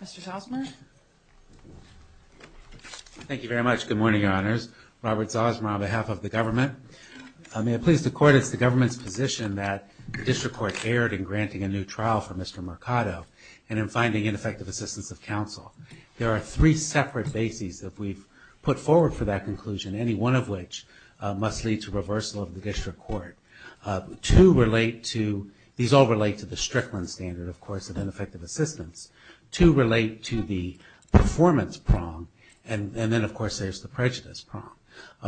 Mr. Zosmar. Thank you very much. Good morning, Your Honors. Robert Zosmar on behalf of the government. May it please the Court, it's the government's position that the District Court erred in granting a new trial for Mr. Mercado and in finding ineffective assistance of counsel. There are three separate bases that we've put forward for that conclusion, any one of which must lead to reversal of the District Court. Two relate to, these all relate to the Strickland standard, of course, of ineffective assistance. Two relate to the performance prong and then, of course, there's the prejudice prong.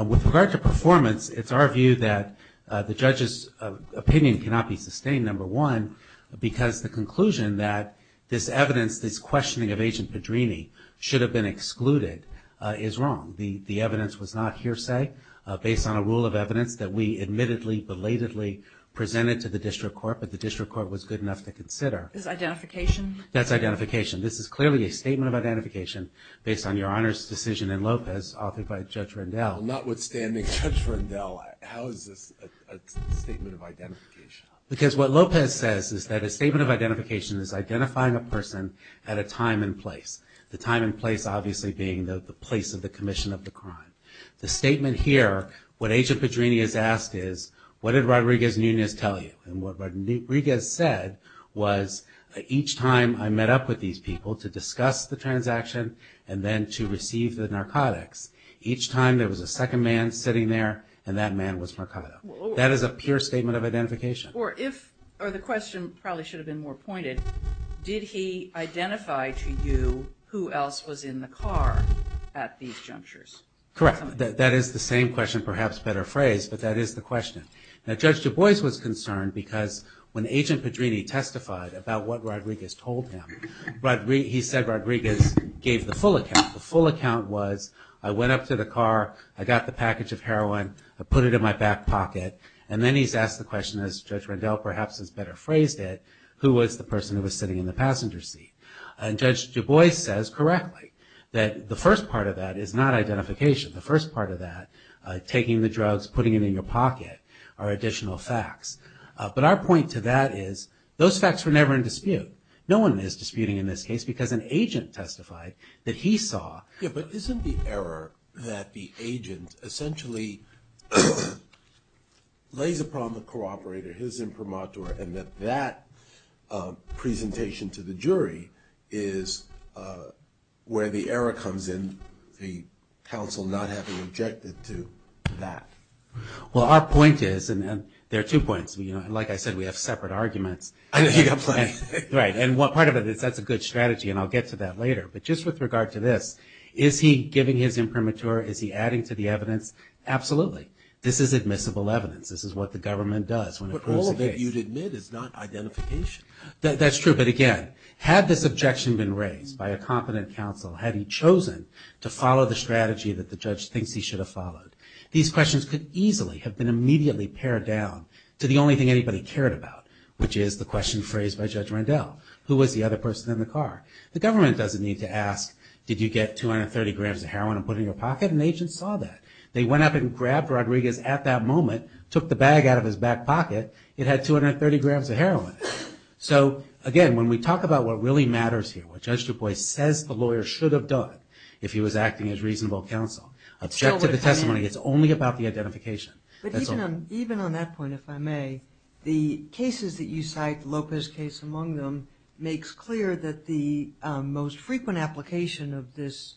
With regard to performance, it's our view that the judge's opinion cannot be sustained, number one, because the conclusion that this evidence, this questioning of Agent Pedrini should have been excluded is wrong. The evidence was not hearsay based on a rule of evidence that we admittedly, belatedly presented to the District Court, but the District Court was good enough to consider. Is it identification? That's identification. This is clearly a statement of identification based on Your Honor's decision in Lopez authored by Judge Rendell. Notwithstanding Judge Rendell, how is this a statement of identification? Because what Lopez says is that a statement of identification is identifying a person at a time and place. The time and place obviously being the place of the commission of the crime. The statement here, what Agent Pedrini has asked is, what did Rodriguez-Nunez tell you? And what Rodriguez said was, each time I met up with these people to discuss the transaction and then to receive the narcotics, each time there was a second man sitting there and that man was Mercado. That is a pure statement of identification. Or if, or the question probably should have been more pointed, did he identify to you who else was in the car at these junctures? Correct. That is the same question, perhaps better phrased, but that is the question. Now Judge Du Bois was concerned because when Agent Pedrini testified about what Rodriguez told him, he said Rodriguez gave the full account. The full account was, I went up to the car, I got the package of heroin, I put it in my back pocket, and then he's asked the question, as Judge Rendell perhaps has better phrased it, who was the person who was in the passenger seat? And Judge Du Bois says correctly, that the first part of that is not identification. The first part of that, taking the drugs, putting it in your pocket, are additional facts. But our point to that is, those facts were never in dispute. No one is disputing in this case because an agent testified that he saw... Yeah, but isn't the error that the agent essentially lays upon the co-operator, his objection to the jury, is where the error comes in, the counsel not having objected to that. Well, our point is, and there are two points, like I said, we have separate arguments. I know, you got plenty. Right, and part of it is that's a good strategy, and I'll get to that later. But just with regard to this, is he giving his imprimatur, is he adding to the evidence? Absolutely. This is admissible evidence. This is what the government does when it approves a case. But all of it, you'd admit, is not identification. That's true, but again, had this objection been raised by a competent counsel, had he chosen to follow the strategy that the judge thinks he should have followed, these questions could easily have been immediately pared down to the only thing anybody cared about, which is the question phrased by Judge Randell, who was the other person in the car? The government doesn't need to ask, did you get 230 grams of heroin and put it in your pocket? An agent saw that. They went up and grabbed Rodriguez at that moment, took the bag out of his back pocket. So again, when we talk about what really matters here, what Judge Du Bois says the lawyer should have done if he was acting as reasonable counsel, object to the testimony. It's only about the identification. Even on that point, if I may, the cases that you cite, Lopez case among them, makes clear that the most frequent application of this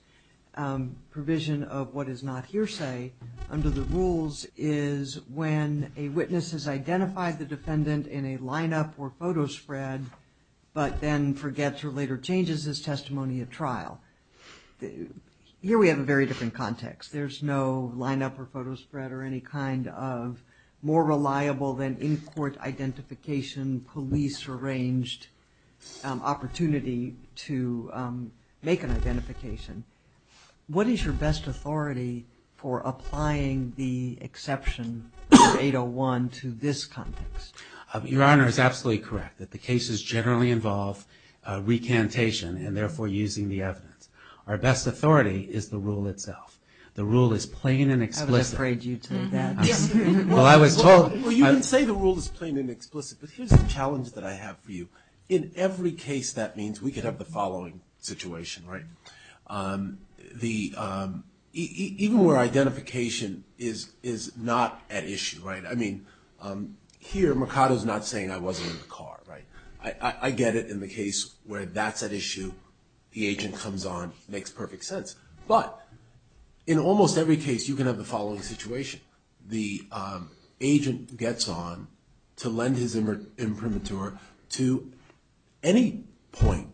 provision of what is not hearsay under the line-up or photo spread, but then forgets or later changes his testimony at trial. Here we have a very different context. There's no line-up or photo spread or any kind of more reliable than in-court identification, police-arranged opportunity to make an identification. What is your best authority for applying the exception under 801 to this context? Your Honor is absolutely correct that the cases generally involve recantation and therefore using the evidence. Our best authority is the rule itself. The rule is plain and explicit. I would have prayed you to do that. Well, you can say the rule is plain and explicit, but here's a challenge that I have for you. In every case, that means we could have the following situation. Even where identification is not at issue. Here Mercado is not saying I wasn't in the car. I get it in the case where that's at issue, the agent comes on, makes perfect sense. But in almost every case you can have the following situation. The agent gets on to lend his imprimatur to any point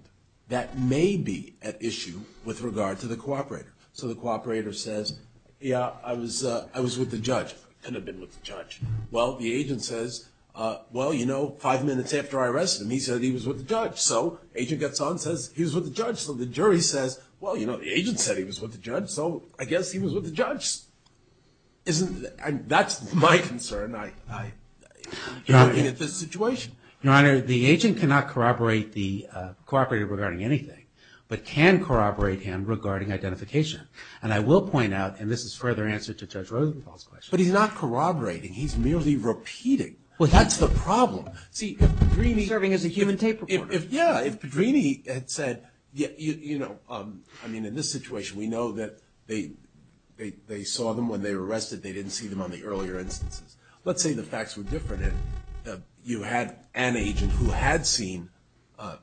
that may be at issue with regard to the cooperator. So the cooperator says, yeah, I was with the judge. I could have been with the judge. Well, the agent says, well, you know, five minutes after I arrested him, he said he was with the judge. So agent gets on and says he was with the judge. So the jury says, well, you know, the agent said he was with the judge, so I guess he was with the judge. That's my concern. I'm looking at this situation. Your Honor, the agent cannot corroborate the cooperator regarding anything, but can corroborate him regarding identification. And I will point out, and this is further answer to Judge Rosenthal's question. But he's not corroborating. He's merely repeating. That's the problem. Well, he's serving as a human tape recorder. Yeah, if Pedrini had said, you know, I mean, in this situation we know that they saw them when they were arrested. They didn't see them on the earlier instances. Let's say the facts were different and you had an agent who had seen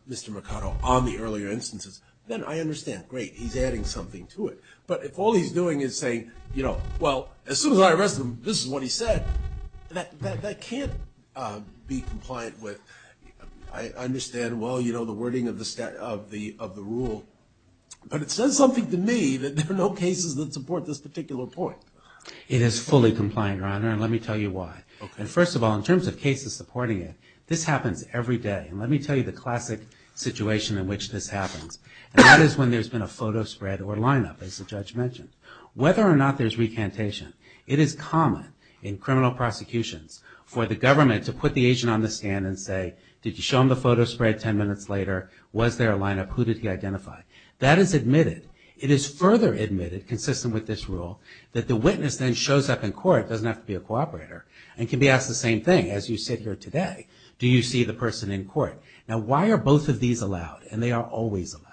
Mr. Mercado on the earlier instances, then I understand, great, he's adding something to it. But if all he's doing is saying, you know, well, as soon as I arrested him, this is what he said, that can't be compliant with, I understand, well, you know, the wording of the rule. But it says something to me that there are no cases that support this particular point. It is fully compliant, Your Honor, and let me tell you why. And first of all, in terms of cases supporting it, this happens every day. And let me tell you the classic situation in which this happens, and that is when there's been a photo spread or lineup, as the judge mentioned. Whether or not there's recantation, it is common in criminal prosecutions for the government to put the agent on the stand and say, did you show him the photo spread ten minutes later? Was there a lineup? Who did he identify? That is admitted. It is further admitted, consistent with this rule, that the witness then shows up in court, doesn't have to be a cooperator, and can be asked the same thing as you sit here today. Do you see the person in court? Now why are both of these allowed? And they are always allowed.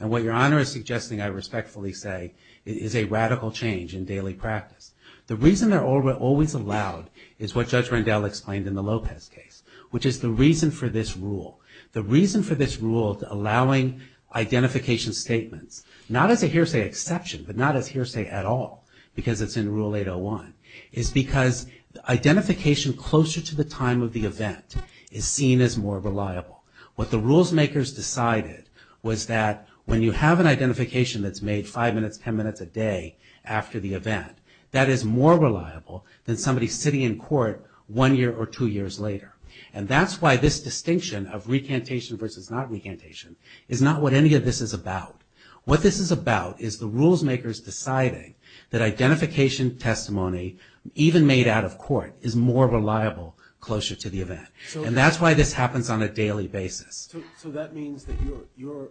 And what Your Honor is suggesting, I respectfully say, is a radical change in daily practice. The reason they're always allowed is what Judge Rendell explained in the Lopez case, which is the reason for this rule. The reason for this rule allowing identification statements, not as a hearsay exception, but not as hearsay at all, because it's in Rule 801, is because identification closer to the time of the event is seen as more reliable. What the rules makers decided was that when you have an identification that's made five minutes, ten minutes a day after the event, that is more reliable than somebody sitting in court one year or two years later. And that's why this distinction of recantation versus not recantation is not what any of this is about. What this is about is the rules makers deciding that identification testimony, even made out of court, is more reliable closer to the event. And that's why this happens on a daily basis. So that means that your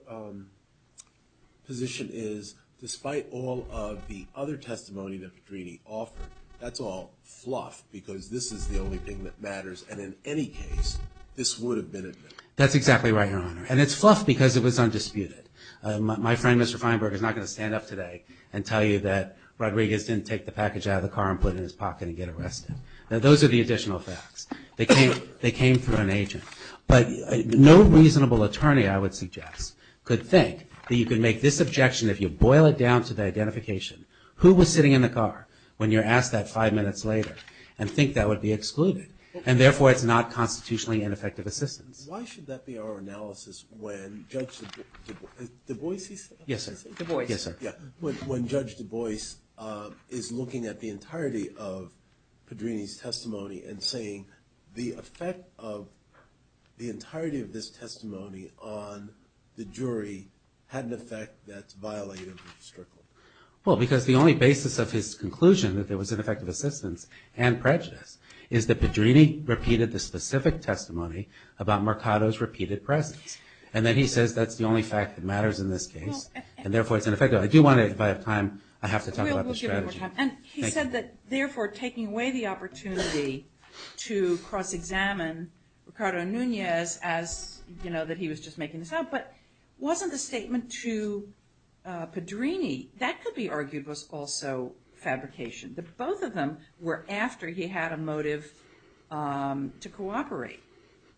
position is, despite all of the other testimony that Pedrini offered, that's all fluff because this is the only thing that matters and in any case, this would have been admitted. That's exactly right, Your Honor. And it's fluff because it was undisputed. My friend, Mr. Feinberg, is not going to stand up today and tell you that Rodriguez didn't take the package out of the car and put it in his pocket and get arrested. Now those are the additional facts. They came through an agent. But no reasonable attorney, I would suggest, could think that you could make this objection if you boil it down to the identification. Who was sitting in the car when you're asked that five minutes later and think that would be excluded? And therefore, it's not constitutionally ineffective assistance. Why should that be our analysis when Judge Du Bois, is he still there? Yes, sir. Du Bois. Yes, sir. When Judge Du Bois is looking at the entirety of Pedrini's testimony and saying the effect of the entirety of this testimony on the jury had an effect that's violated or strickled. Well, because the only basis of his conclusion that there was ineffective assistance and prejudice is that Pedrini repeated the specific testimony about Mercado's repeated presence. And then he says that's the only fact that matters in this case. Well. And therefore, it's ineffectual. I do want to, if I have time, I have to talk about the strategy. We'll give you more time. Thank you. And he said that, therefore, taking away the opportunity to cross-examine Mercado Nunez as, you know, that he was just making this up. But wasn't the statement to Pedrini, that could be argued was also fabrication. Both of them were after he had a motive to cooperate.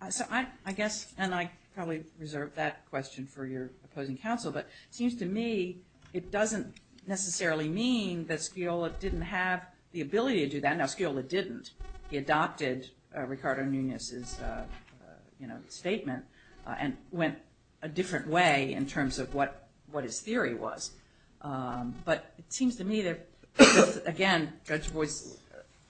So I guess, and I probably reserve that question for your opposing counsel, but it seems to me it doesn't necessarily mean that Sciola didn't have the ability to do that. Now, Sciola didn't. He adopted Mercado Nunez's, you know, statement and went a different way in terms of what his theory was. But it seems to me that, again, Judge Du Bois'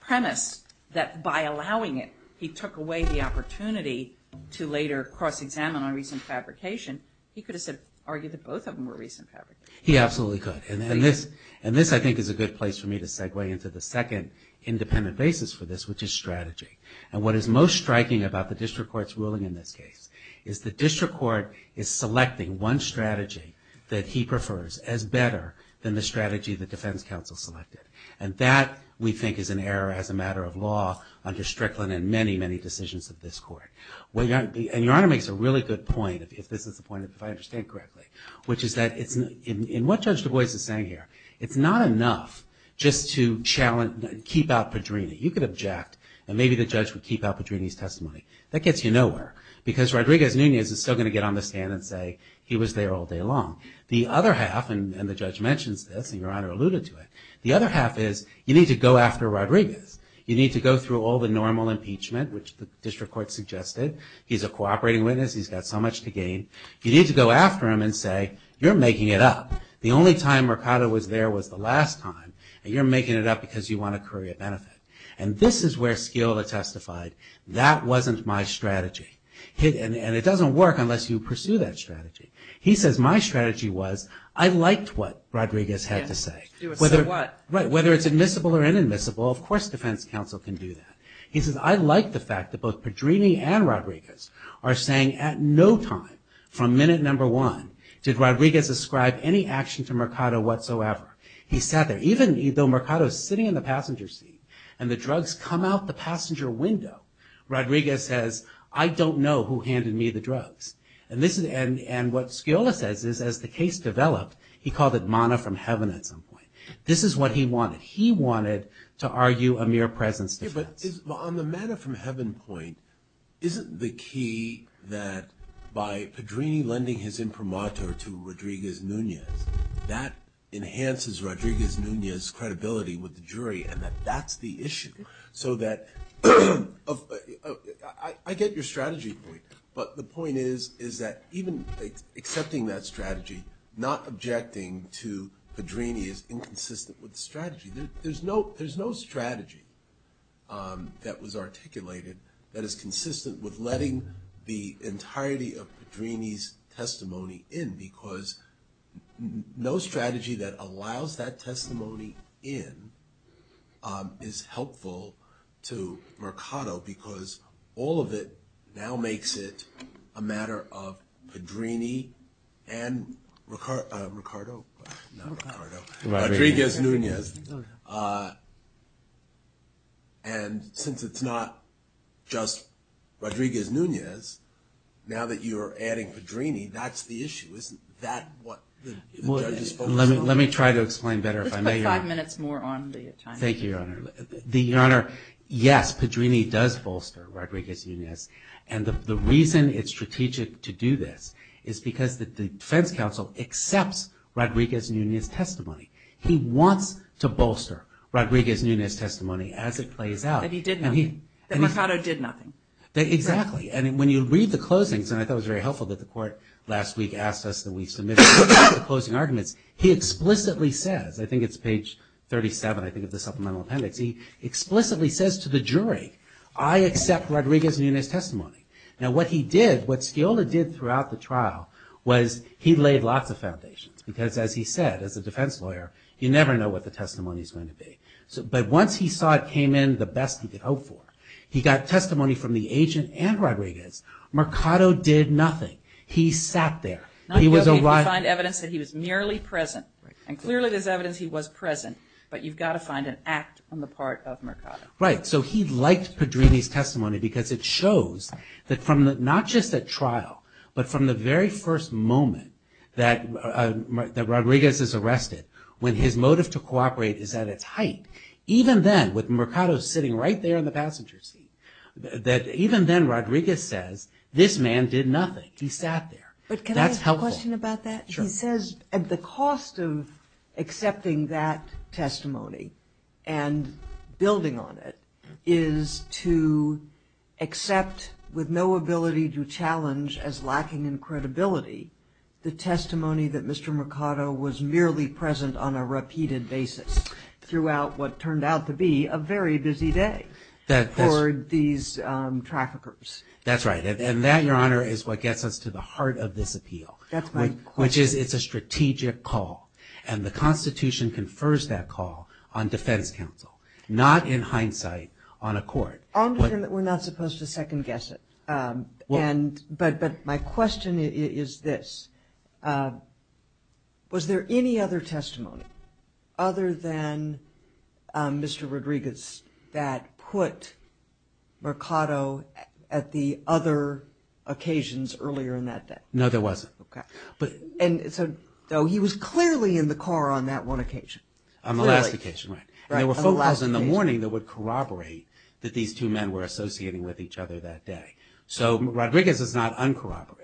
premise that, by allowing it, he took away the opportunity to later cross-examine on recent fabrication, he could have argued that both of them were recent fabrication. He absolutely could. And this, I think, is a good place for me to segue into the second independent basis for this, which is strategy. And what is most striking about the district court's ruling in this case is the district court is selecting one strategy that he prefers as better than the strategy the defense counsel selected. And that, we think, is an error as a matter of law under Strickland and many, many decisions of this court. And Your Honor makes a really good point, if this is the point, if I understand correctly, which is that, in what Judge Du Bois is saying here, it's not enough just to challenge, keep out Pedrini. You could object, and maybe the judge would keep out Pedrini's testimony. That gets you nowhere, because Rodriguez-Nunez is still going to get on the stand and say he was there all day long. The other half, and the judge mentions this, and Your Honor alluded to it, the other half is you need to go after Rodriguez. You need to go through all the normal impeachment, which the district court suggested. He's a cooperating witness. He's got so much to gain. You need to go after him and say, you're making it up. The only time Mercado was there was the last time, and you're making it up because you want to curry a benefit. And this is where Skiller testified, that wasn't my strategy. And it doesn't work unless you pursue that strategy. He says, my strategy was, I liked what Rodriguez had to say. Whether it's admissible or inadmissible, of course defense counsel can do that. He says, I like the fact that both Pedrini and Rodriguez are saying at no time from minute number one did Rodriguez ascribe any action to Mercado whatsoever. He sat there, even though Mercado is sitting in the passenger seat, and the drugs come out the passenger window, Rodriguez says, I don't know who handed me the drugs. And what Skiller says is as the case developed, he called it manna from heaven at some point. This is what he wanted. He wanted to argue a mere presence defense. Yeah, but on the manna from heaven point, isn't the key that by Pedrini lending his imprimatur to Rodriguez Nunez, that enhances Rodriguez Nunez's credibility with the jury and that that's the issue? So that, I get your strategy point, but the point is, is that even accepting that strategy, not objecting to Pedrini is inconsistent with the strategy. There's no strategy that was articulated that is consistent with letting the entirety of Pedrini's testimony in, because no strategy that allows that testimony in is helpful to Pedrini and Mercado, not Mercado, Rodriguez Nunez. And since it's not just Rodriguez Nunez, now that you're adding Pedrini, that's the issue. Isn't that what the judges focus on? Let me try to explain better if I may. Let's put five minutes more on the time. Thank you, Your Honor. Your Honor, yes, Pedrini does bolster Rodriguez Nunez, and the reason it's strategic to do this is because the defense counsel accepts Rodriguez Nunez's testimony. He wants to bolster Rodriguez Nunez's testimony as it plays out. And he did nothing. Mercado did nothing. Exactly. And when you read the closings, and I thought it was very helpful that the court last week asked us that we submit the closing arguments, he explicitly says, I think it's page 37, I think of the supplemental appendix, he explicitly says to the jury, I accept Rodriguez Nunez's What he did, what Sciola did throughout the trial, was he laid lots of foundations. Because as he said, as a defense lawyer, you never know what the testimony is going to be. But once he saw it came in the best he could hope for, he got testimony from the agent and Rodriguez. Mercado did nothing. He sat there. Not only did he find evidence that he was merely present, and clearly there's evidence he was present, but you've got to find an act on the part of Mercado. Right. So he liked Pedrini's testimony because it shows that from not just at trial, but from the very first moment that Rodriguez is arrested, when his motive to cooperate is at its height, even then, with Mercado sitting right there in the passenger seat, that even then, Rodriguez says, this man did nothing. He sat there. That's helpful. But can I ask a question about that? Sure. It says at the cost of accepting that testimony and building on it, is to accept with no ability to challenge as lacking in credibility, the testimony that Mr. Mercado was merely present on a repeated basis throughout what turned out to be a very busy day for these traffickers. That's right. And that, Your Honor, is what gets us to the heart of this appeal. That's my question. Which is, it's a strategic call, and the Constitution confers that call on defense counsel, not, in hindsight, on a court. I understand that we're not supposed to second-guess it, but my question is this. Was there any other testimony other than Mr. Rodriguez's that put Mercado at the other occasions earlier in that day? No, there wasn't. Okay. And so he was clearly in the car on that one occasion. On the last occasion, right. Right, on the last occasion. And there were photos in the morning that would corroborate that these two men were associating with each other that day. So Rodriguez is not uncorroborated.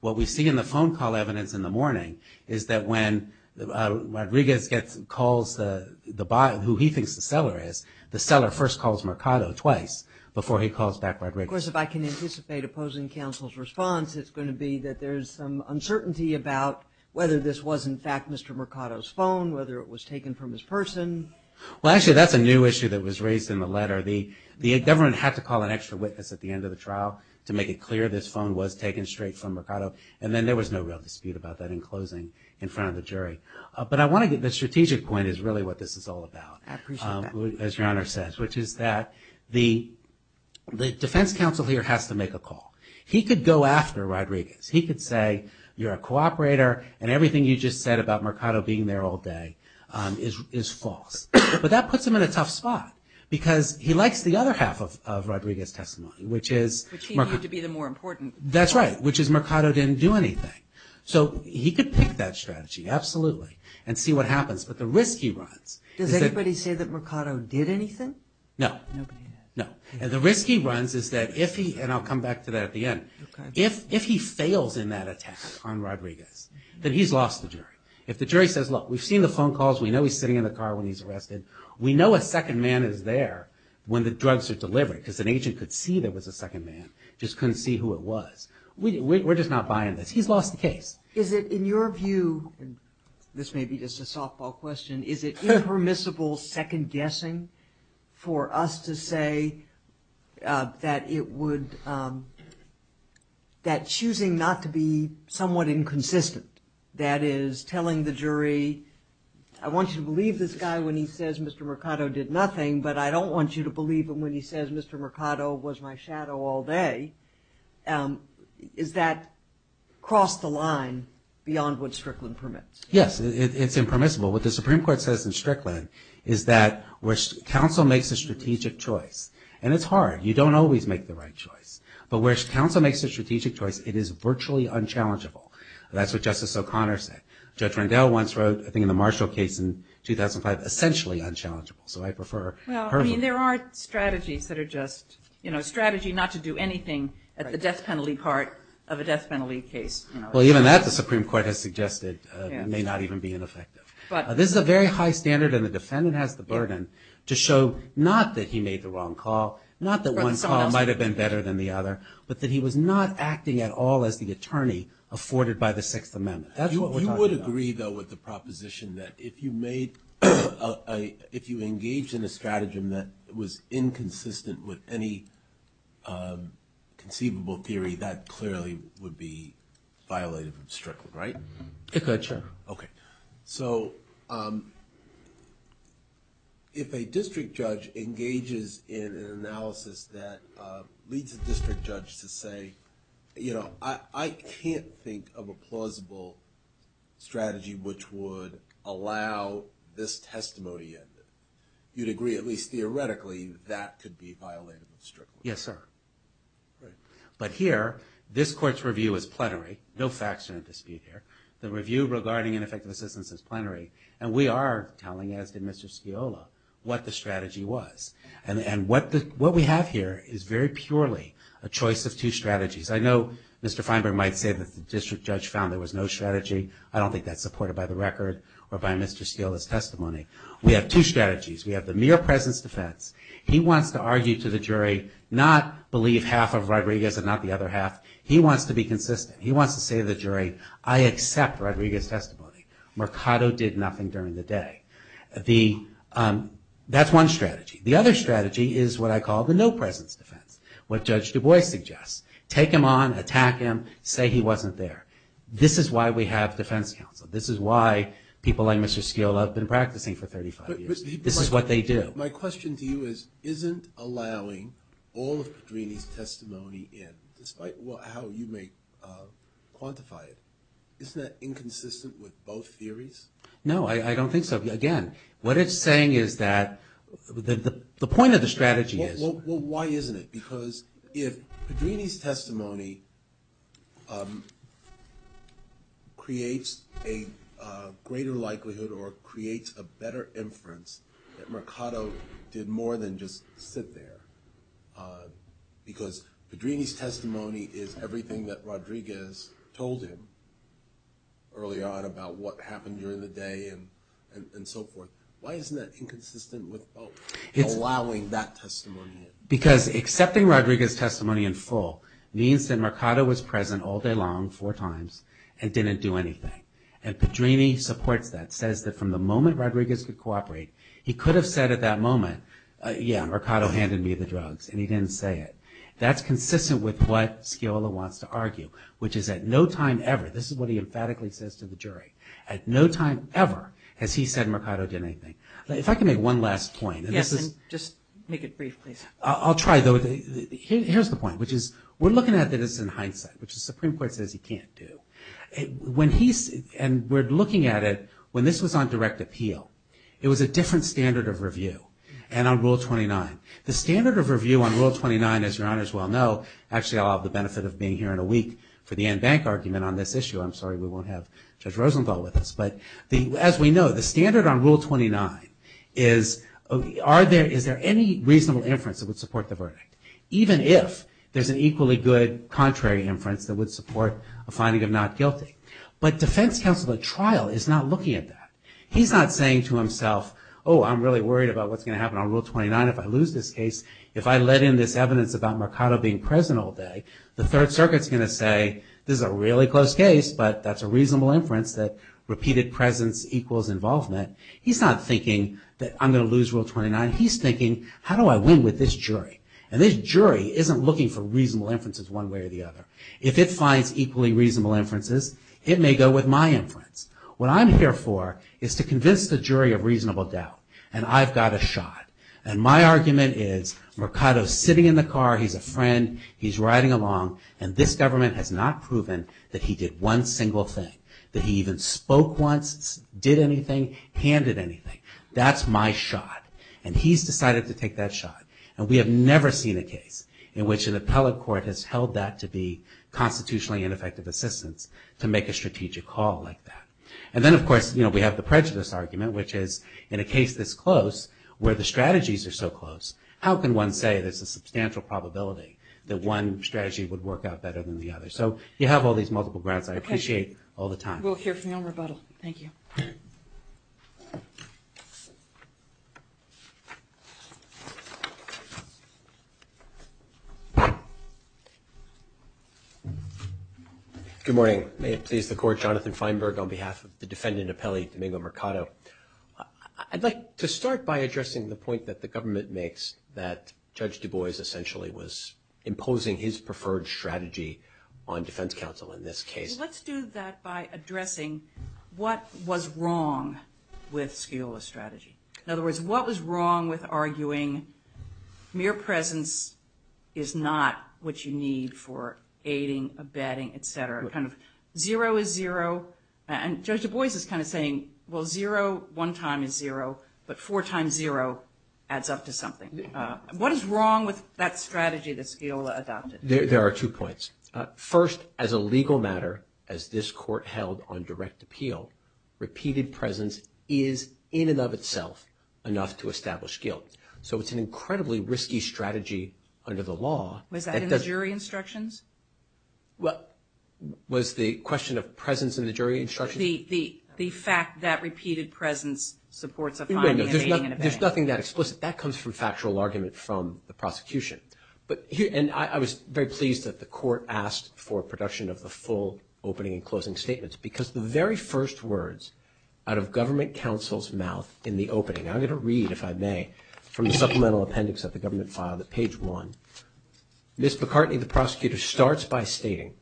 What we see in the phone call evidence in the morning is that when Rodriguez calls the buyer, who he thinks the seller is, the seller first calls Mercado twice before he calls back Rodriguez. And, of course, if I can anticipate opposing counsel's response, it's going to be that there's some uncertainty about whether this was, in fact, Mr. Mercado's phone, whether it was taken from his person. Well, actually, that's a new issue that was raised in the letter. The government had to call an extra witness at the end of the trial to make it clear this phone was taken straight from Mercado, and then there was no real dispute about that in closing in front of the jury. But I want to get the strategic point is really what this is all about. I appreciate that. Which is that the defense counsel here has to make a call. He could go after Rodriguez. He could say, you're a cooperator, and everything you just said about Mercado being there all day is false. But that puts him in a tough spot because he likes the other half of Rodriguez's testimony, which is- Which he viewed to be the more important part. That's right, which is Mercado didn't do anything. So he could pick that strategy, absolutely, and see what happens. But the risk he runs- Does anybody say that Mercado did anything? No. And the risk he runs is that if he- and I'll come back to that at the end. If he fails in that attack on Rodriguez, then he's lost the jury. If the jury says, look, we've seen the phone calls. We know he's sitting in the car when he's arrested. We know a second man is there when the drugs are delivered because an agent could see there was a second man, just couldn't see who it was. We're just not buying this. He's lost the case. Is it, in your view, and this may be just a softball question, is it impermissible second guessing for us to say that it would- that choosing not to be somewhat inconsistent, that is telling the jury, I want you to believe this guy when he says Mr. Mercado did nothing, but I don't want you to believe him when he says Mr. Mercado was my shadow all day. Is that cross the line beyond what Strickland permits? Yes, it's impermissible. What the Supreme Court says in Strickland is that where counsel makes a strategic choice, and it's hard. You don't always make the right choice. But where counsel makes a strategic choice, it is virtually unchallengeable. That's what Justice O'Connor said. Judge Rendell once wrote, I think in the Marshall case in 2005, essentially unchallengeable. So I prefer- Well, I mean, there are strategies that are just, you know, strategy not to do anything at the death penalty part of a death penalty case. Well, even that the Supreme Court has suggested may not even be ineffective. But- This is a very high standard, and the defendant has the burden to show not that he made the wrong call, not that one call might have been better than the other, but that he was not acting at all as the attorney afforded by the Sixth Amendment. That's what we're talking about. I agree, though, with the proposition that if you made a- if you engaged in a stratagem that was inconsistent with any conceivable theory, that clearly would be violative of Strickland, right? It could, sure. Okay. So if a district judge engages in an analysis that leads a district judge to say, you know, I can't think of a plausible strategy which would allow this testimony in. You'd agree, at least theoretically, that that could be violative of Strickland? Yes, sir. Great. But here, this Court's review is plenary. No facts are in dispute here. The review regarding ineffective assistance is plenary, and we are telling, as did Mr. Sciola, what the strategy was. And what we have here is very purely a choice of two strategies. I know Mr. Feinberg might say that the district judge found there was no strategy. I don't think that's supported by the record or by Mr. Sciola's testimony. We have two strategies. We have the mere presence defense. He wants to argue to the jury, not believe half of Rodriguez and not the other half. He wants to be consistent. He wants to say to the jury, I accept Rodriguez's testimony. Mercado did nothing during the day. That's one strategy. The other strategy is what I call the no-presence defense, what Judge Du Bois suggests. Take him on, attack him, say he wasn't there. This is why we have defense counsel. This is why people like Mr. Sciola have been practicing for 35 years. This is what they do. My question to you is, isn't allowing all of Padrini's testimony in, despite how you may quantify it, isn't that inconsistent with both theories? No, I don't think so. Again, what it's saying is that the point of the strategy is. Well, why isn't it? Because if Padrini's testimony creates a greater likelihood or creates a better inference that Mercado did more than just sit there, because Padrini's testimony is everything that Rodriguez told him earlier on about what happened during the day and so forth, why isn't that inconsistent with allowing that testimony in? Because accepting Rodriguez's testimony in full means that Mercado was present all day long, four times, and didn't do anything. And Padrini supports that, says that from the moment Rodriguez could cooperate, he could have said at that moment, yeah, Mercado handed me the drugs, and he didn't say it. That's consistent with what Sciola wants to argue, which is at no time ever, this is what he emphatically says to the jury, at no time ever has he said Mercado did anything. If I can make one last point. Yes, and just make it brief, please. I'll try, though. Here's the point, which is we're looking at this in hindsight, which the Supreme Court says he can't do. And we're looking at it when this was on direct appeal. It was a different standard of review and on Rule 29. The standard of review on Rule 29, as Your Honors well know, actually I'll have the benefit of being here in a week for the But as we know, the standard on Rule 29 is, is there any reasonable inference that would support the verdict, even if there's an equally good contrary inference that would support a finding of not guilty. But defense counsel at trial is not looking at that. He's not saying to himself, oh, I'm really worried about what's going to happen on Rule 29 if I lose this case. If I let in this evidence about Mercado being present all day, the Third Circuit's going to say, this is a really close case, but that's a reasonable inference that repeated presence equals involvement. He's not thinking that I'm going to lose Rule 29. He's thinking, how do I win with this jury? And this jury isn't looking for reasonable inferences one way or the other. If it finds equally reasonable inferences, it may go with my inference. What I'm here for is to convince the jury of reasonable doubt. And I've got a shot. And my argument is Mercado's sitting in the car. He's a friend. He's riding along. And this government has not proven that he did one single thing, that he even spoke once, did anything, handed anything. That's my shot. And he's decided to take that shot. And we have never seen a case in which an appellate court has held that to be constitutionally ineffective assistance to make a strategic call like that. And then, of course, we have the prejudice argument, which is in a case this close where the strategies are so close, how can one say there's a substantial probability that one strategy would work out better than the other? So you have all these multiple grounds. I appreciate all the time. We'll hear from you on rebuttal. Thank you. Good morning. May it please the Court. Jonathan Feinberg on behalf of the defendant appellate Domingo Mercado. I'd like to start by addressing the point that the government makes that preferred strategy on defense counsel in this case. Let's do that by addressing what was wrong with Sciola's strategy. In other words, what was wrong with arguing mere presence is not what you need for aiding, abetting, et cetera. Kind of zero is zero. And Judge Du Bois is kind of saying, well, zero one time is zero, but four times zero adds up to something. What is wrong with that strategy that Sciola adopted? There are two points. First, as a legal matter, as this Court held on direct appeal, repeated presence is in and of itself enough to establish guilt. So it's an incredibly risky strategy under the law. Was that in the jury instructions? Was the question of presence in the jury instructions? The fact that repeated presence supports a finding and aiding and abetting. There's nothing that explicit. That comes from factual argument from the prosecution. And I was very pleased that the Court asked for production of the full opening and closing statements because the very first words out of government counsel's mouth in the opening, and I'm going to read, if I may, from the supplemental appendix of the government file, the page one. Ms. McCartney, the prosecutor, starts by stating,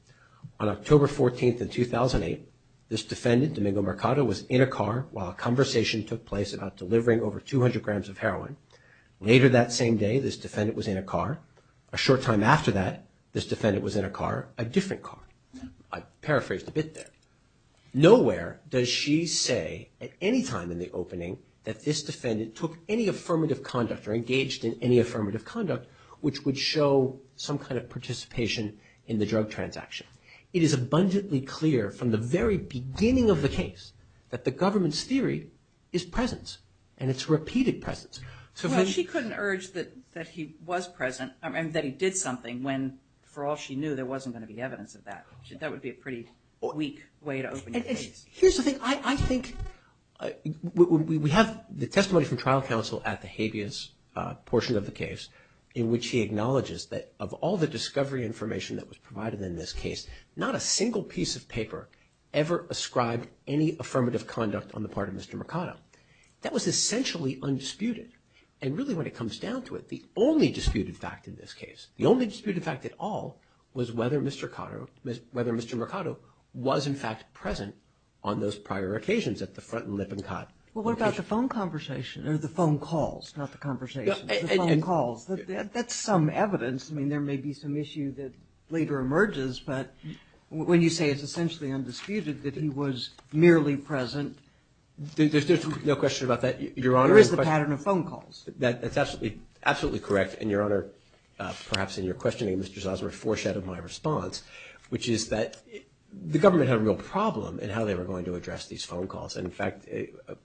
on October 14th in 2008 this defendant, Domingo Mercado, was in a car while a conversation took place about delivering over 200 grams of heroin. Later that same day this defendant was in a car. A short time after that this defendant was in a car, a different car. I paraphrased a bit there. Nowhere does she say at any time in the opening that this defendant took any affirmative conduct or engaged in any affirmative conduct which would show some kind of participation in the drug transaction. It is abundantly clear from the very beginning of the case that the government's theory is presence and it's repeated presence. Well, she couldn't urge that he was present and that he did something when, for all she knew, there wasn't going to be evidence of that. That would be a pretty weak way to open your case. Here's the thing. I think we have the testimony from trial counsel at the habeas portion of the case in which he acknowledges that of all the discovery information that was provided in this case, not a single piece of paper ever ascribed any affirmative conduct on the part of Mr. Mercado. That was essentially undisputed. And really when it comes down to it, the only disputed fact in this case, the only disputed fact at all was whether Mr. Mercado was in fact present on those prior occasions at the front and Lippincott location. Well, what about the phone conversation or the phone calls, not the conversation, the phone calls? That's some evidence. I mean, there may be some issue that later emerges. But when you say it's essentially undisputed that he was merely present. There's no question about that, Your Honor. There is the pattern of phone calls. That's absolutely correct. And, Your Honor, perhaps in your questioning, Mr. Zausmer foreshadowed my response, which is that the government had a real problem in how they were going to address these phone calls. And, in fact,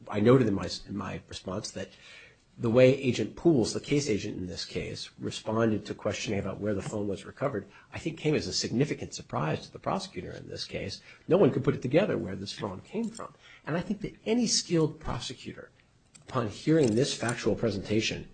I noted in my response that the way Agent Pools, the case agent in this case, responded to questioning about where the phone was recovered, I think came as a significant surprise to the prosecutor in this case. No one could put it together where this phone came from. And I think that any skilled prosecutor, upon hearing this factual presentation,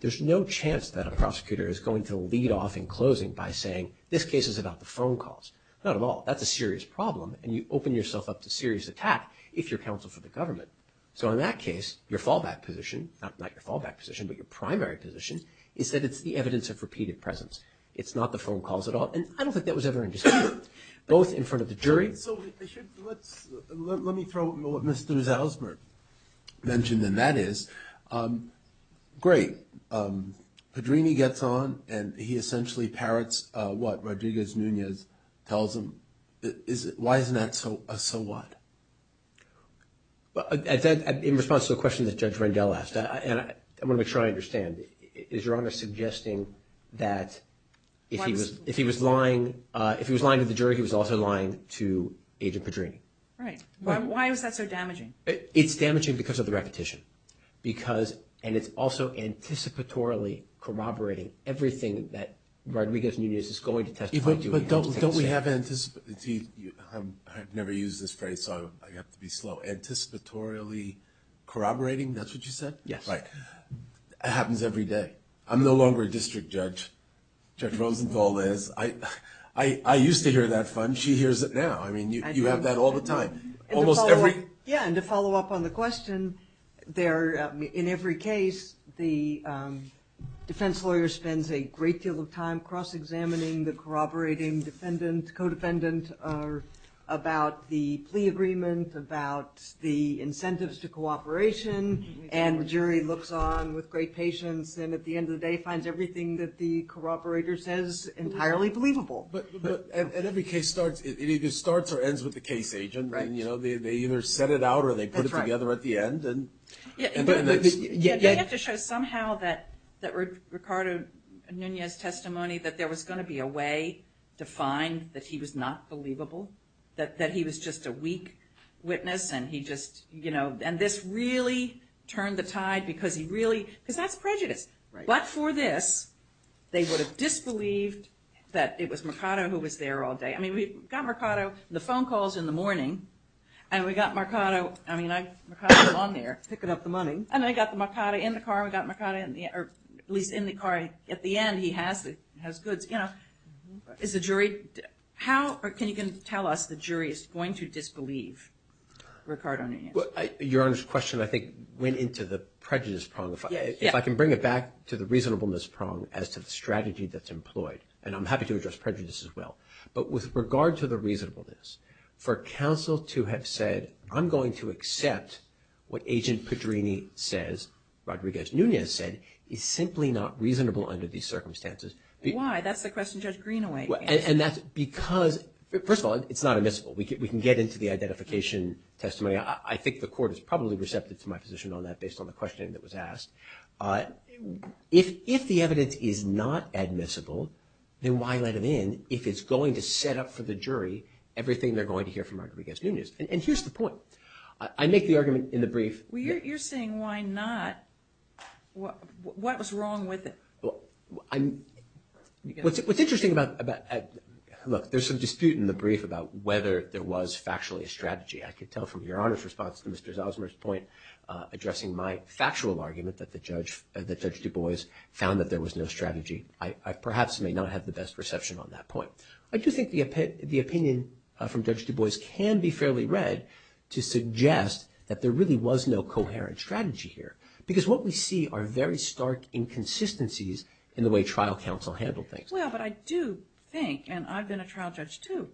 there's no chance that a prosecutor is going to lead off in closing by saying, this case is about the phone calls. Not at all. That's a serious problem. And you open yourself up to serious attack if you're counsel for the government. So in that case, your fallback position, not your fallback position, but your primary position is that it's the evidence of repeated presence. It's not the phone calls at all. And I don't think that was ever understood, both in front of the jury. So let me throw what Mr. Zausmer mentioned, and that is, great, Padrini gets on, and he essentially parrots what Rodriguez-Nunez tells him. Why isn't that a so what? In response to the question that Judge Rendell asked, and I want to make sure I understand, is Your Honor suggesting that if he was lying to the jury, he was also lying to Agent Padrini? Right. Why was that so damaging? It's damaging because of the repetition, and it's also anticipatorily corroborating everything that Rodriguez-Nunez is going to testify to. But don't we have anticipatory – I've never used this phrase, so I have to be slow. Anticipatorily corroborating, that's what you said? Yes. Right. It happens every day. I'm no longer a district judge. Judge Rosenthal is. I used to hear that fun. She hears it now. I mean, you have that all the time. Almost every – Yeah, and to follow up on the question, in every case, the defense lawyer spends a great deal of time cross-examining the corroborating defendant, about the plea agreement, about the incentives to cooperation, and the jury looks on with great patience and at the end of the day finds everything that the corroborator says entirely believable. But at every case, it either starts or ends with the case agent. They either set it out or they put it together at the end. They have to show somehow that Ricardo Nunez's testimony, that there was going to be a way to find that he was not believable, that he was just a weak witness and he just – and this really turned the tide because he really – because that's prejudice. But for this, they would have disbelieved that it was Mercado who was there all day. I mean, we got Mercado, the phone calls in the morning, and we got Mercado – I mean, Mercado was on there. Picking up the money. And I got the Mercado in the car. We got Mercado in the – or at least in the car at the end. He has goods, you know. Is the jury – how can you tell us the jury is going to disbelieve Ricardo Nunez? Your Honor's question, I think, went into the prejudice prong. If I can bring it back to the reasonableness prong as to the strategy that's employed, and I'm happy to address prejudice as well. But with regard to the reasonableness, for counsel to have said, I'm going to accept what Agent Pedrini says, Rodriguez Nunez said, is simply not reasonable under these circumstances. Why? That's the question Judge Greenaway asked. And that's because – first of all, it's not admissible. We can get into the identification testimony. I think the court is probably receptive to my position on that based on the questioning that was asked. If the evidence is not admissible, then why let him in if it's going to set up for the jury everything they're going to hear from Rodriguez Nunez? And here's the point. I make the argument in the brief. Well, you're saying why not? What was wrong with it? What's interesting about – look, there's some dispute in the brief about whether there was factually a strategy. I could tell from Your Honor's response to Mr. Zalzmer's point, addressing my factual argument that Judge Du Bois found that there was no strategy. I perhaps may not have the best perception on that point. I do think the opinion from Judge Du Bois can be fairly read to suggest that there really was no coherent strategy here, because what we see are very stark inconsistencies in the way trial counsel handled things. Well, but I do think, and I've been a trial judge too,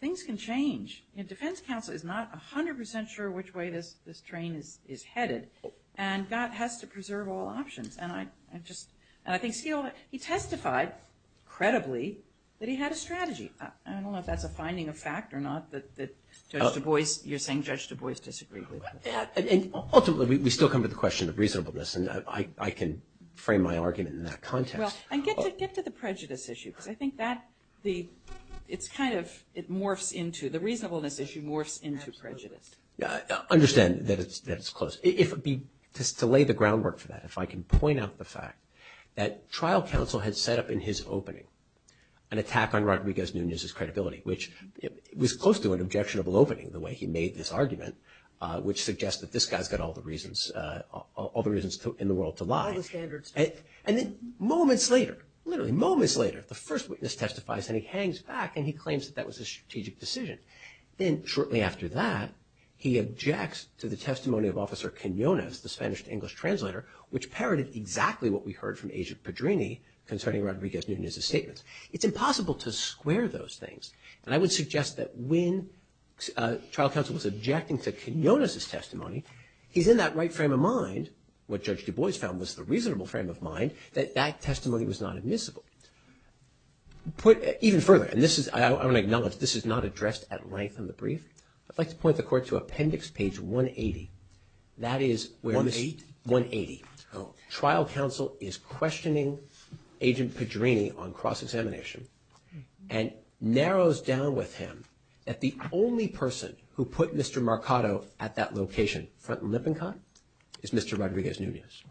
things can change. Defense counsel is not 100 percent sure which way this train is headed, and God has to preserve all options. And I think he testified, credibly, that he had a strategy. I don't know if that's a finding of fact or not that Judge Du Bois – you're saying Judge Du Bois disagreed with that. Ultimately, we still come to the question of reasonableness, and I can frame my argument in that context. Well, and get to the prejudice issue, because I think that the – the reasonableness issue morphs into prejudice. Understand that it's close. To lay the groundwork for that, if I can point out the fact that trial counsel had set up in his opening an attack on Rodriguez-Nunez's credibility, which was close to an objectionable opening, the way he made this argument, which suggests that this guy's got all the reasons in the world to lie. All the standards. And then moments later, literally moments later, the first witness testifies, and he hangs back, and he claims that that was a strategic decision. Then, shortly after that, he objects to the testimony of Officer Quinonez, the Spanish-English translator, which parodied exactly what we heard from Agent Pedrini concerning Rodriguez-Nunez's statements. It's impossible to square those things. And I would suggest that when trial counsel was objecting to Quinonez's testimony, he's in that right frame of mind – what Judge Du Bois found was the reasonable frame of mind – that that testimony was not admissible. Even further, and I want to acknowledge this is not addressed at length in the brief, I'd like to point the Court to Appendix Page 180. That is where – 180? 180. Oh, okay. Trial counsel is questioning Agent Pedrini on cross-examination, and narrows down with him that the only person who put Mr. Marcato at that location, front and lip and cut, is Mr. Rodriguez-Nunez.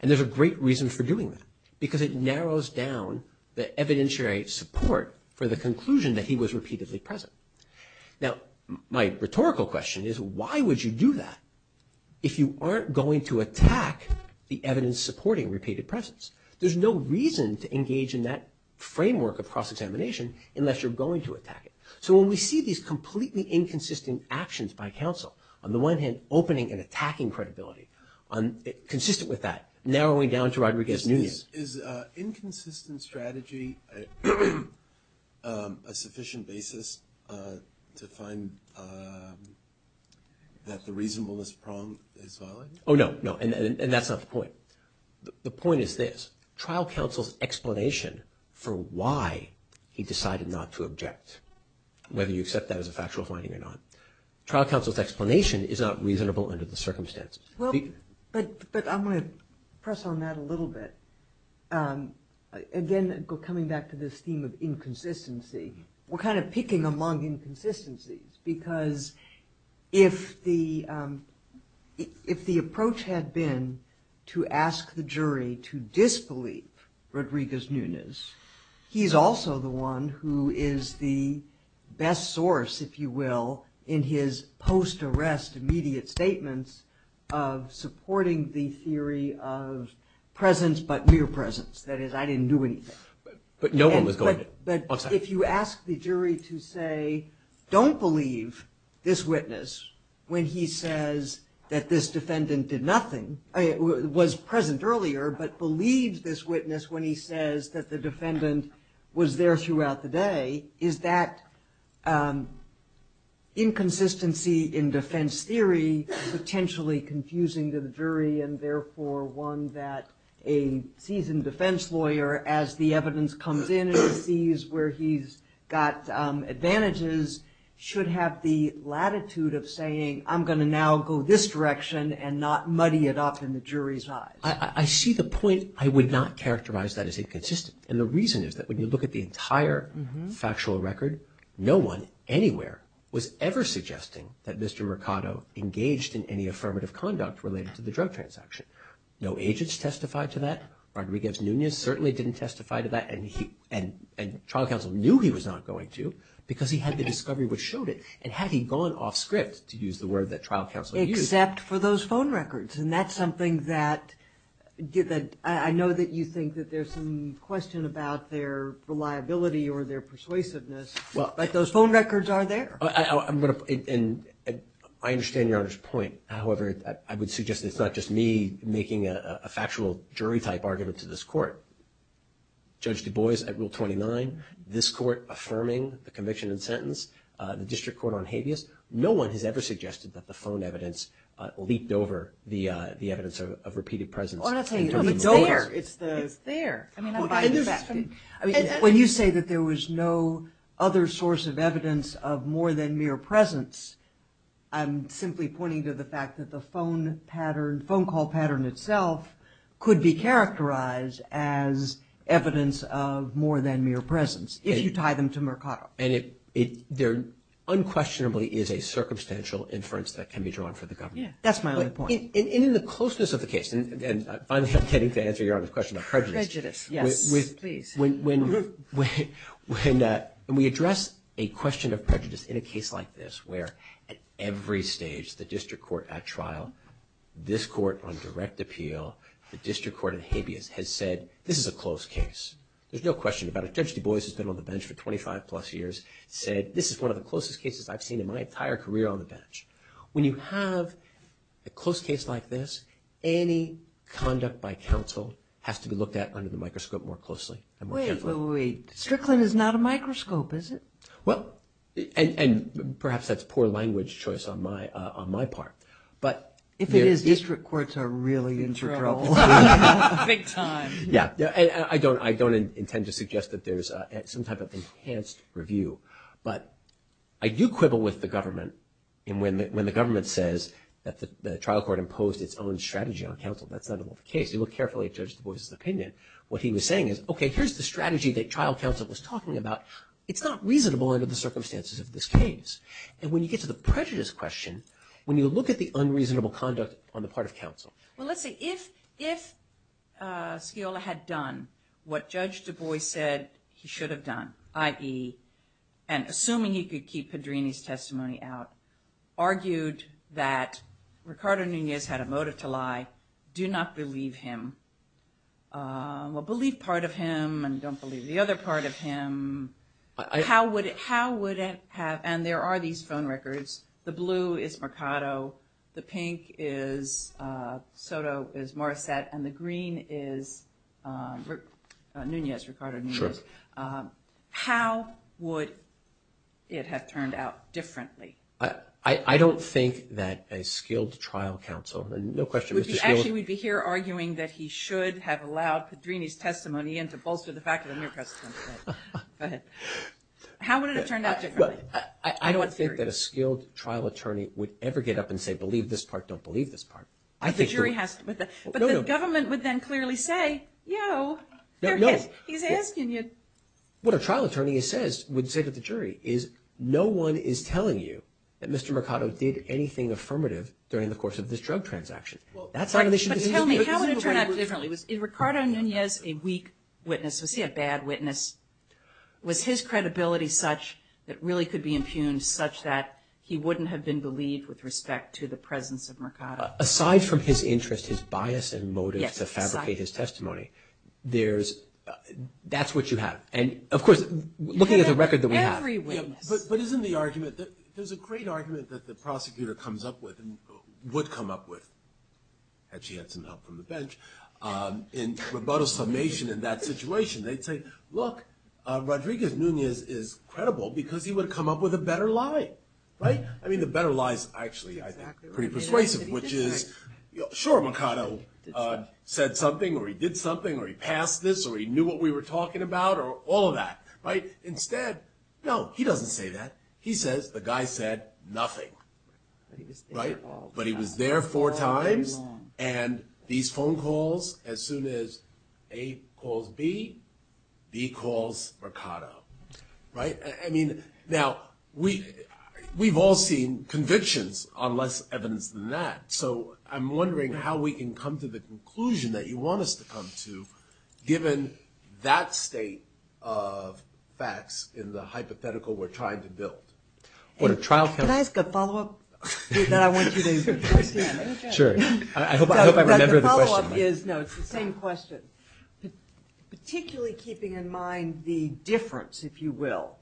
And there's a great reason for doing that, because it narrows down the evidentiary support for the conclusion that he was repeatedly present. Now, my rhetorical question is, why would you do that if you aren't going to attack the evidence supporting repeated presence? There's no reason to engage in that framework of cross-examination unless you're going to attack it. So when we see these completely inconsistent actions by counsel, on the one hand, opening and attacking credibility, consistent with that, narrowing down to Rodriguez-Nunez. Is inconsistent strategy a sufficient basis to find that the reasonableness prong is valid? Oh, no. No, and that's not the point. The point is this. Trial counsel's explanation for why he decided not to object, whether you accept that as a factual finding or not. Trial counsel's explanation is not reasonable under the circumstances. But I'm going to press on that a little bit. Again, coming back to this theme of inconsistency, we're kind of picking among inconsistencies, because if the approach had been to ask the jury to disbelieve Rodriguez-Nunez, he's also the one who is the best source, if you will, in his post-arrest immediate statements of supporting the theory of presence, but mere presence. That is, I didn't do anything. But if you ask the jury to say, don't believe this witness when he says that this defendant did nothing, was present earlier, but believed this witness when he says that the defendant was there throughout the day, is that inconsistency in defense theory potentially confusing to the jury and therefore one that a seasoned defense lawyer, as the evidence comes in and sees where he's got advantages, should have the latitude of saying, I'm going to now go this direction and not muddy it up in the jury's eyes. I see the point. I would not characterize that as inconsistent. And the reason is that when you look at the entire factual record, no one anywhere was ever suggesting that Mr. Mercado engaged in any affirmative conduct related to the drug transaction. No agents testified to that. Rodriguez-Nunez certainly didn't testify to that. And trial counsel knew he was not going to because he had the discovery which showed it. And had he gone off script, to use the word that trial counsel used. Except for those phone records. And that's something that I know that you think that there's some question about their reliability or their persuasiveness. But those phone records are there. I understand Your Honor's point. However, I would suggest it's not just me making a factual jury-type argument to this court. Judge Du Bois at Rule 29. This court affirming the conviction and sentence. The district court on habeas. No one has ever suggested that the phone evidence leaped over the evidence of repeated presence. I'm not saying it leaped over. It's there. When you say that there was no other source of evidence of more than mere presence, I'm simply pointing to the fact that the phone pattern, the phone pattern itself could be characterized as evidence of more than mere presence. If you tie them to Mercado. And there unquestionably is a circumstantial inference that can be drawn for the government. That's my only point. And in the closeness of the case, and finally I'm getting to answer Your Honor's question on prejudice. Prejudice, yes. Please. When we address a question of prejudice in a case like this, where at every stage the district court at trial, this court on direct appeal, the district court on habeas has said this is a close case. There's no question about it. Judge Du Bois has been on the bench for 25 plus years, said this is one of the closest cases I've seen in my entire career on the bench. When you have a close case like this, any conduct by counsel has to be looked at under the microscope more closely. Wait, wait, wait. Strickland is not a microscope, is it? Well, and perhaps that's poor language choice on my part. If it is, district courts are really in for trouble. Big time. Yeah. I don't intend to suggest that there's some type of enhanced review. But I do quibble with the government. And when the government says that the trial court imposed its own strategy on counsel, that's not at all the case. You look carefully at Judge Du Bois' opinion. What he was saying is, okay, here's the strategy that trial counsel was talking about. It's not reasonable under the circumstances of this case. And when you get to the prejudice question, when you look at the unreasonable conduct on the part of counsel. Well, let's see. If Sciola had done what Judge Du Bois said he should have done, i.e., and assuming he could keep Padrini's testimony out, argued that Ricardo Nunez had a motive to lie, do not believe him. Well, believe part of him and don't believe the other part of him. How would it have? And there are these phone records. The blue is Mercado. The pink is Soto, is Morissette. And the green is Nunez, Ricardo Nunez. Sure. How would it have turned out differently? I don't think that a skilled trial counsel, no question. Actually, we'd be here arguing that he should have allowed Padrini's testimony and to bolster the fact of the mere precedent. Go ahead. How would it have turned out differently? I don't think that a skilled trial attorney would ever get up and say, believe this part, don't believe this part. But the government would then clearly say, yo, he's asking you. What a trial attorney would say to the jury is, no one is telling you that Mr. Mercado did anything affirmative during the course of this drug transaction. But tell me, how would it have turned out differently? Was Ricardo Nunez a weak witness? Was he a bad witness? Was his credibility such that really could be impugned such that he wouldn't have been believed with respect to the presence of Mercado? Aside from his interest, his bias and motive to fabricate his testimony, that's what you have. And, of course, looking at the record that we have. But isn't the argument that there's a great argument that the prosecutor comes up with and would come up with, had she had some help from the bench, in Roboto's summation in that situation, they'd say, look, Rodriguez Nunez is credible because he would have come up with a better lie. I mean, the better lie is actually pretty persuasive, which is, sure, Mercado said something or he did something or he passed this or he knew what we were talking about or all of that. Right? Instead, no, he doesn't say that. He says the guy said nothing. Right? But he was there four times and these phone calls, as soon as A calls B, B calls Mercado. Right? I mean, now, we've all seen convictions on less evidence than that. So I'm wondering how we can come to the conclusion that you want us to come to given that state of facts in the hypothetical we're trying to build. Can I ask a follow-up? Sure. I hope I remember the question. No, it's the same question. Particularly keeping in mind the difference, if you will,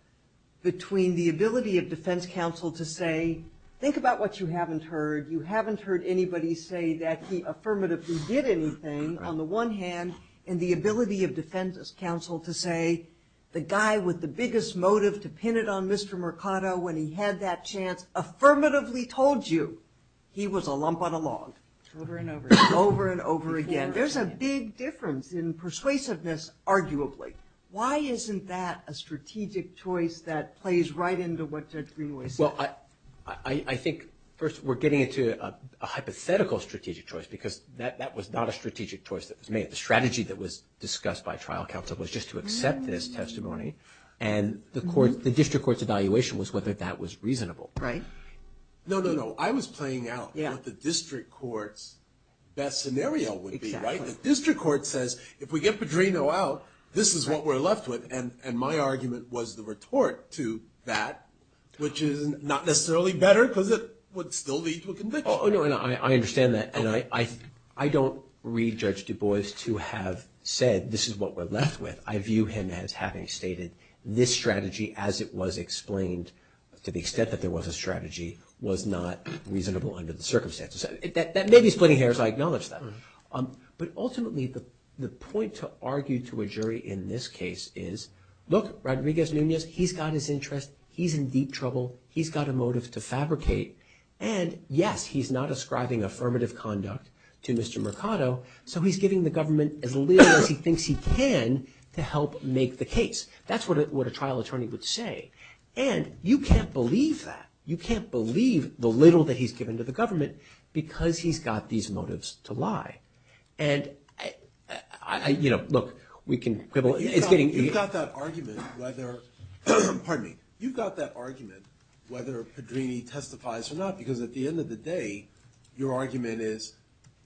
between the ability of defense counsel to say, think about what you haven't heard. You haven't heard anybody say that he affirmatively did anything, on the one hand, and the ability of defense counsel to say, the guy with the biggest motive to pin it on Mr. Mercado when he had that chance affirmatively told you he was a lump on a log. Over and over again. Over and over again. There's a big difference in persuasiveness, arguably. Why isn't that a strategic choice that plays right into what Judge Greenway said? Well, I think, first, we're getting into a hypothetical strategic choice because that was not a strategic choice that was made. The strategy that was discussed by trial counsel was just to accept this testimony, and the district court's evaluation was whether that was reasonable. Right. No, no, no. I was playing out what the district court's best scenario would be, right? Exactly. The district court says, if we get Padrino out, this is what we're left with, and my argument was the retort to that, which is not necessarily better because it would still lead to a conviction. Oh, no, I understand that, and I don't read Judge Du Bois to have said, this is what we're left with. I view him as having stated this strategy as it was explained to the extent that there was a strategy was not reasonable under the circumstances. That may be splitting hairs. I acknowledge that. But ultimately, the point to argue to a jury in this case is, look, Rodriguez-Nunez, he's got his interest, he's in deep trouble, he's got a motive to fabricate, and, yes, he's not ascribing affirmative conduct to Mr. Mercado, so he's giving the government as little as he thinks he can to help make the case. That's what a trial attorney would say, and you can't believe that. You can't believe the little that he's given to the government because he's got these motives to lie. And, you know, look, we can quibble. You've got that argument whether, pardon me, you've got that argument whether Padrini testifies or not because, at the end of the day, your argument is,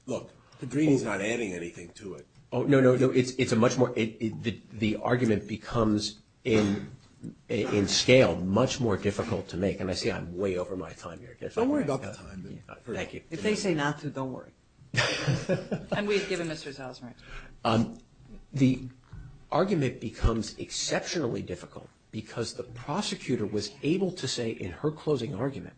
look, Padrini's not adding anything to it. Oh, no, no, no, it's a much more – the argument becomes, in scale, much more difficult to make. And I see I'm way over my time here. Don't worry about that time. Thank you. If they say not to, don't worry. And we've given Mr. Salzman. The argument becomes exceptionally difficult because the prosecutor was able to say in her closing argument,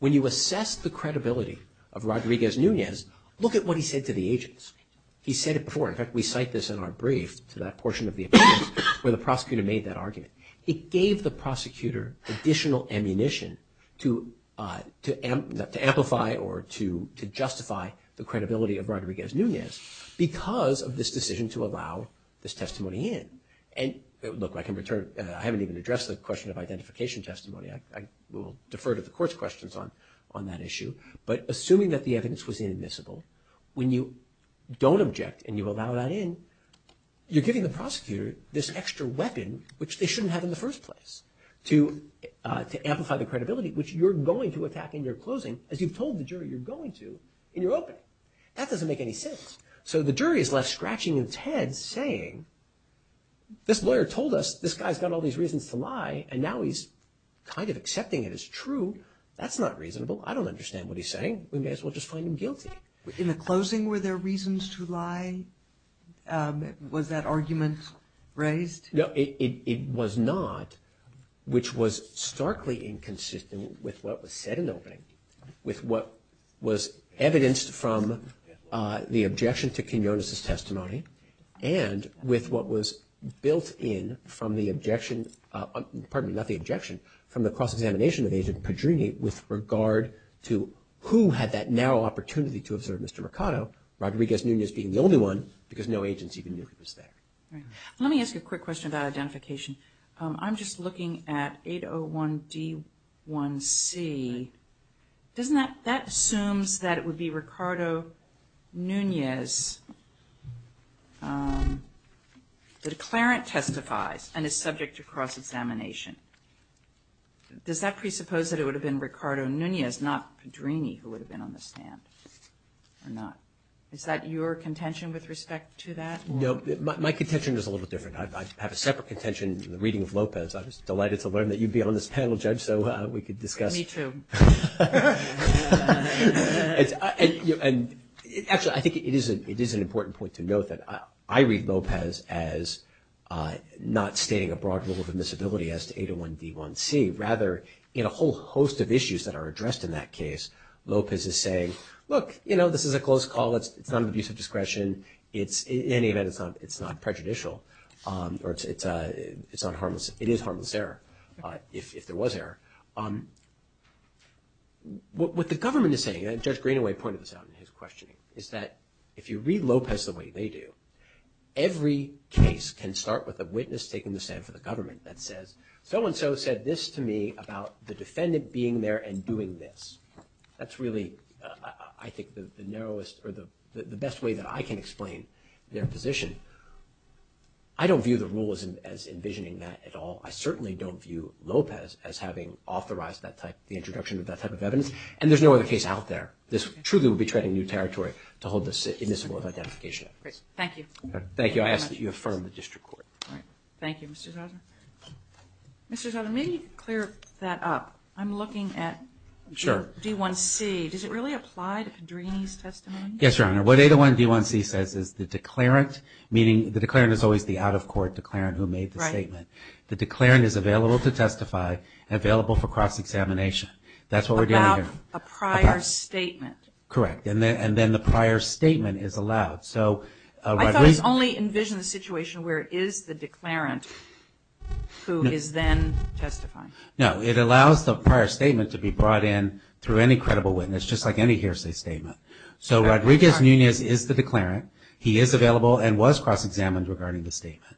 when you assess the credibility of Rodriguez-Núñez, look at what he said to the agents. He said it before. In fact, we cite this in our brief to that portion of the appeal where the prosecutor made that argument. It gave the prosecutor additional ammunition to amplify or to justify the credibility of Rodriguez-Núñez because of this decision to allow this testimony in. And, look, I can return – I haven't even addressed the question of identification testimony. I will defer to the court's questions on that issue. But assuming that the evidence was inadmissible, when you don't object and you allow that in, you're giving the prosecutor this extra weapon, which they shouldn't have in the first place, to amplify the credibility, which you're going to attack in your closing as you've told the jury you're going to in your opening. That doesn't make any sense. So the jury is left scratching its head saying, this lawyer told us this guy's got all these reasons to lie and now he's kind of accepting it as true. That's not reasonable. I don't understand what he's saying. We may as well just find him guilty. In the closing, were there reasons to lie? Was that argument raised? No, it was not, which was starkly inconsistent with what was said in the opening, with what was evidenced from the objection to Quinonez's testimony, and with what was built in from the objection, pardon me, not the objection, from the cross-examination of Agent Padrini with regard to who had that narrow opportunity to observe Mr. Mercado, Rodriguez-Nunez being the only one, because no agents even knew he was there. Let me ask you a quick question about identification. I'm just looking at 801D1C. Doesn't that assume that it would be Mercado-Nunez that a clarent testifies and is subject to cross-examination? Does that presuppose that it would have been Mercado-Nunez, not Padrini who would have been on the stand or not? Is that your contention with respect to that? No, my contention is a little different. I have a separate contention in the reading of Lopez. I was delighted to learn that you'd be on this panel, Judge, so we could discuss. Me too. Actually, I think it is an important point to note that I read Lopez as not stating a broad rule of admissibility as to 801D1C. Rather, in a whole host of issues that are addressed in that case, Lopez is saying, look, you know, this is a close call. It's not an abuse of discretion. In any event, it's not prejudicial. It is harmless error, if there was error. What the government is saying, and Judge Greenaway pointed this out in his questioning, is that if you read Lopez the way they do, every case can start with a witness taking the stand for the government that says, so-and-so said this to me about the defendant being there and doing this. That's really, I think, the best way that I can explain their position. I don't view the rule as envisioning that at all. I certainly don't view Lopez as having authorized the introduction of that type of evidence, and there's no other case out there. This truly would be treading new territory to hold this admissible of identification. Thank you. Thank you. I ask that you affirm the district court. Thank you, Mr. Souther. Mr. Souther, may you clear that up? I'm looking at D1C. Sure. Does it really apply to Pedrini's testimony? Yes, Your Honor. What 801 D1C says is the declarant, meaning the declarant is always the out-of-court declarant who made the statement. Right. The declarant is available to testify and available for cross-examination. That's what we're doing here. About a prior statement. Correct. And then the prior statement is allowed. I thought it was only envisioning the situation where it is the declarant who is then testifying. No, it allows the prior statement to be brought in through any credible witness, just like any hearsay statement. So Rodriguez-Nunez is the declarant. He is available and was cross-examined regarding the statement.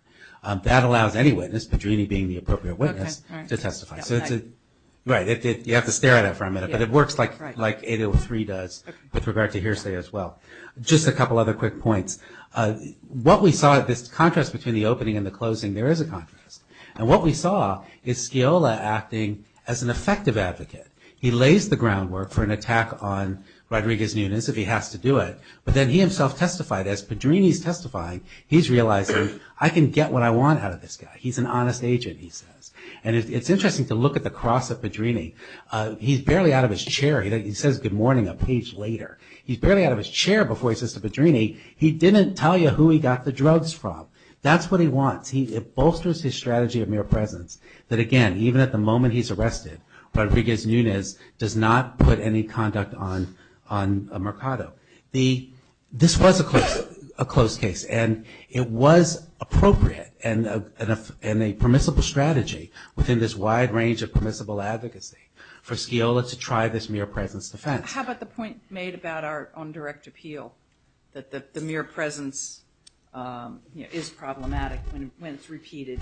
That allows any witness, Pedrini being the appropriate witness, to testify. Right. You have to stare at it for a minute, but it works like 803 does with regard to hearsay as well. Just a couple other quick points. And what we saw is Sciola acting as an effective advocate. He lays the groundwork for an attack on Rodriguez-Nunez if he has to do it, but then he himself testified. As Pedrini's testifying, he's realizing, I can get what I want out of this guy. He's an honest agent, he says. And it's interesting to look at the cross of Pedrini. He's barely out of his chair. He says good morning a page later. He's barely out of his chair before he says to Pedrini, he didn't tell you who he got the drugs from. That's what he wants. It bolsters his strategy of mere presence that, again, even at the moment he's arrested, Rodriguez-Nunez does not put any conduct on Mercado. This was a closed case, and it was appropriate and a permissible strategy within this wide range of permissible advocacy for Sciola to try this mere presence defense. How about the point made about our own direct appeal, that the mere presence is problematic when it's repeated?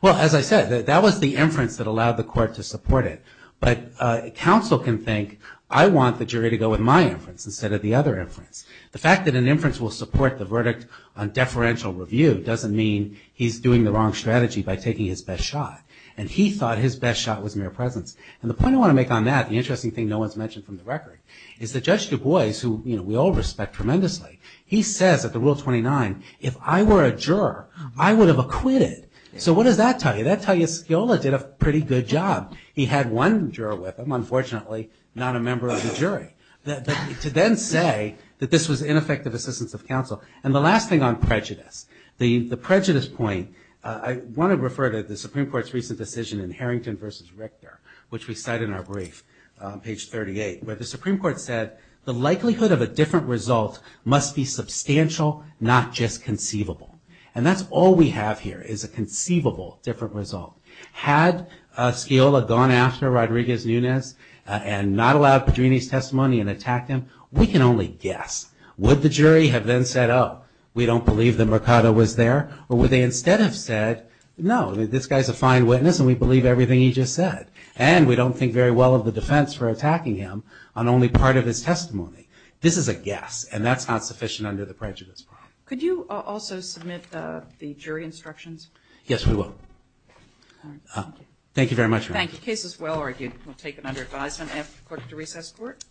Well, as I said, that was the inference that allowed the court to support it. But counsel can think, I want the jury to go with my inference instead of the other inference. The fact that an inference will support the verdict on deferential review doesn't mean he's doing the wrong strategy by taking his best shot. And he thought his best shot was mere presence. And the point I want to make on that, the interesting thing no one's mentioned from the record, is that Judge Du Bois, who we all respect tremendously, he says at the Rule 29, if I were a juror, I would have acquitted. So what does that tell you? That tells you Sciola did a pretty good job. He had one juror with him, unfortunately not a member of the jury, to then say that this was ineffective assistance of counsel. And the last thing on prejudice. The prejudice point, I want to refer to the Supreme Court's recent decision in Harrington v. Richter, which we cite in our brief, page 38, where the Supreme Court said the likelihood of a different result must be substantial, not just conceivable. And that's all we have here, is a conceivable different result. Had Sciola gone after Rodriguez-Nunez and not allowed Padrini's testimony and attacked him, we can only guess. Would the jury have then said, oh, we don't believe that Mercado was there? Or would they instead have said, no, this guy's a fine witness and we believe everything he just said. And we don't think very well of the defense for attacking him on only part of his testimony. This is a guess, and that's not sufficient under the prejudice problem. Could you also submit the jury instructions? Yes, we will. Thank you very much. Thank you. The case is well argued. We'll take it under advisement after the court to recess court.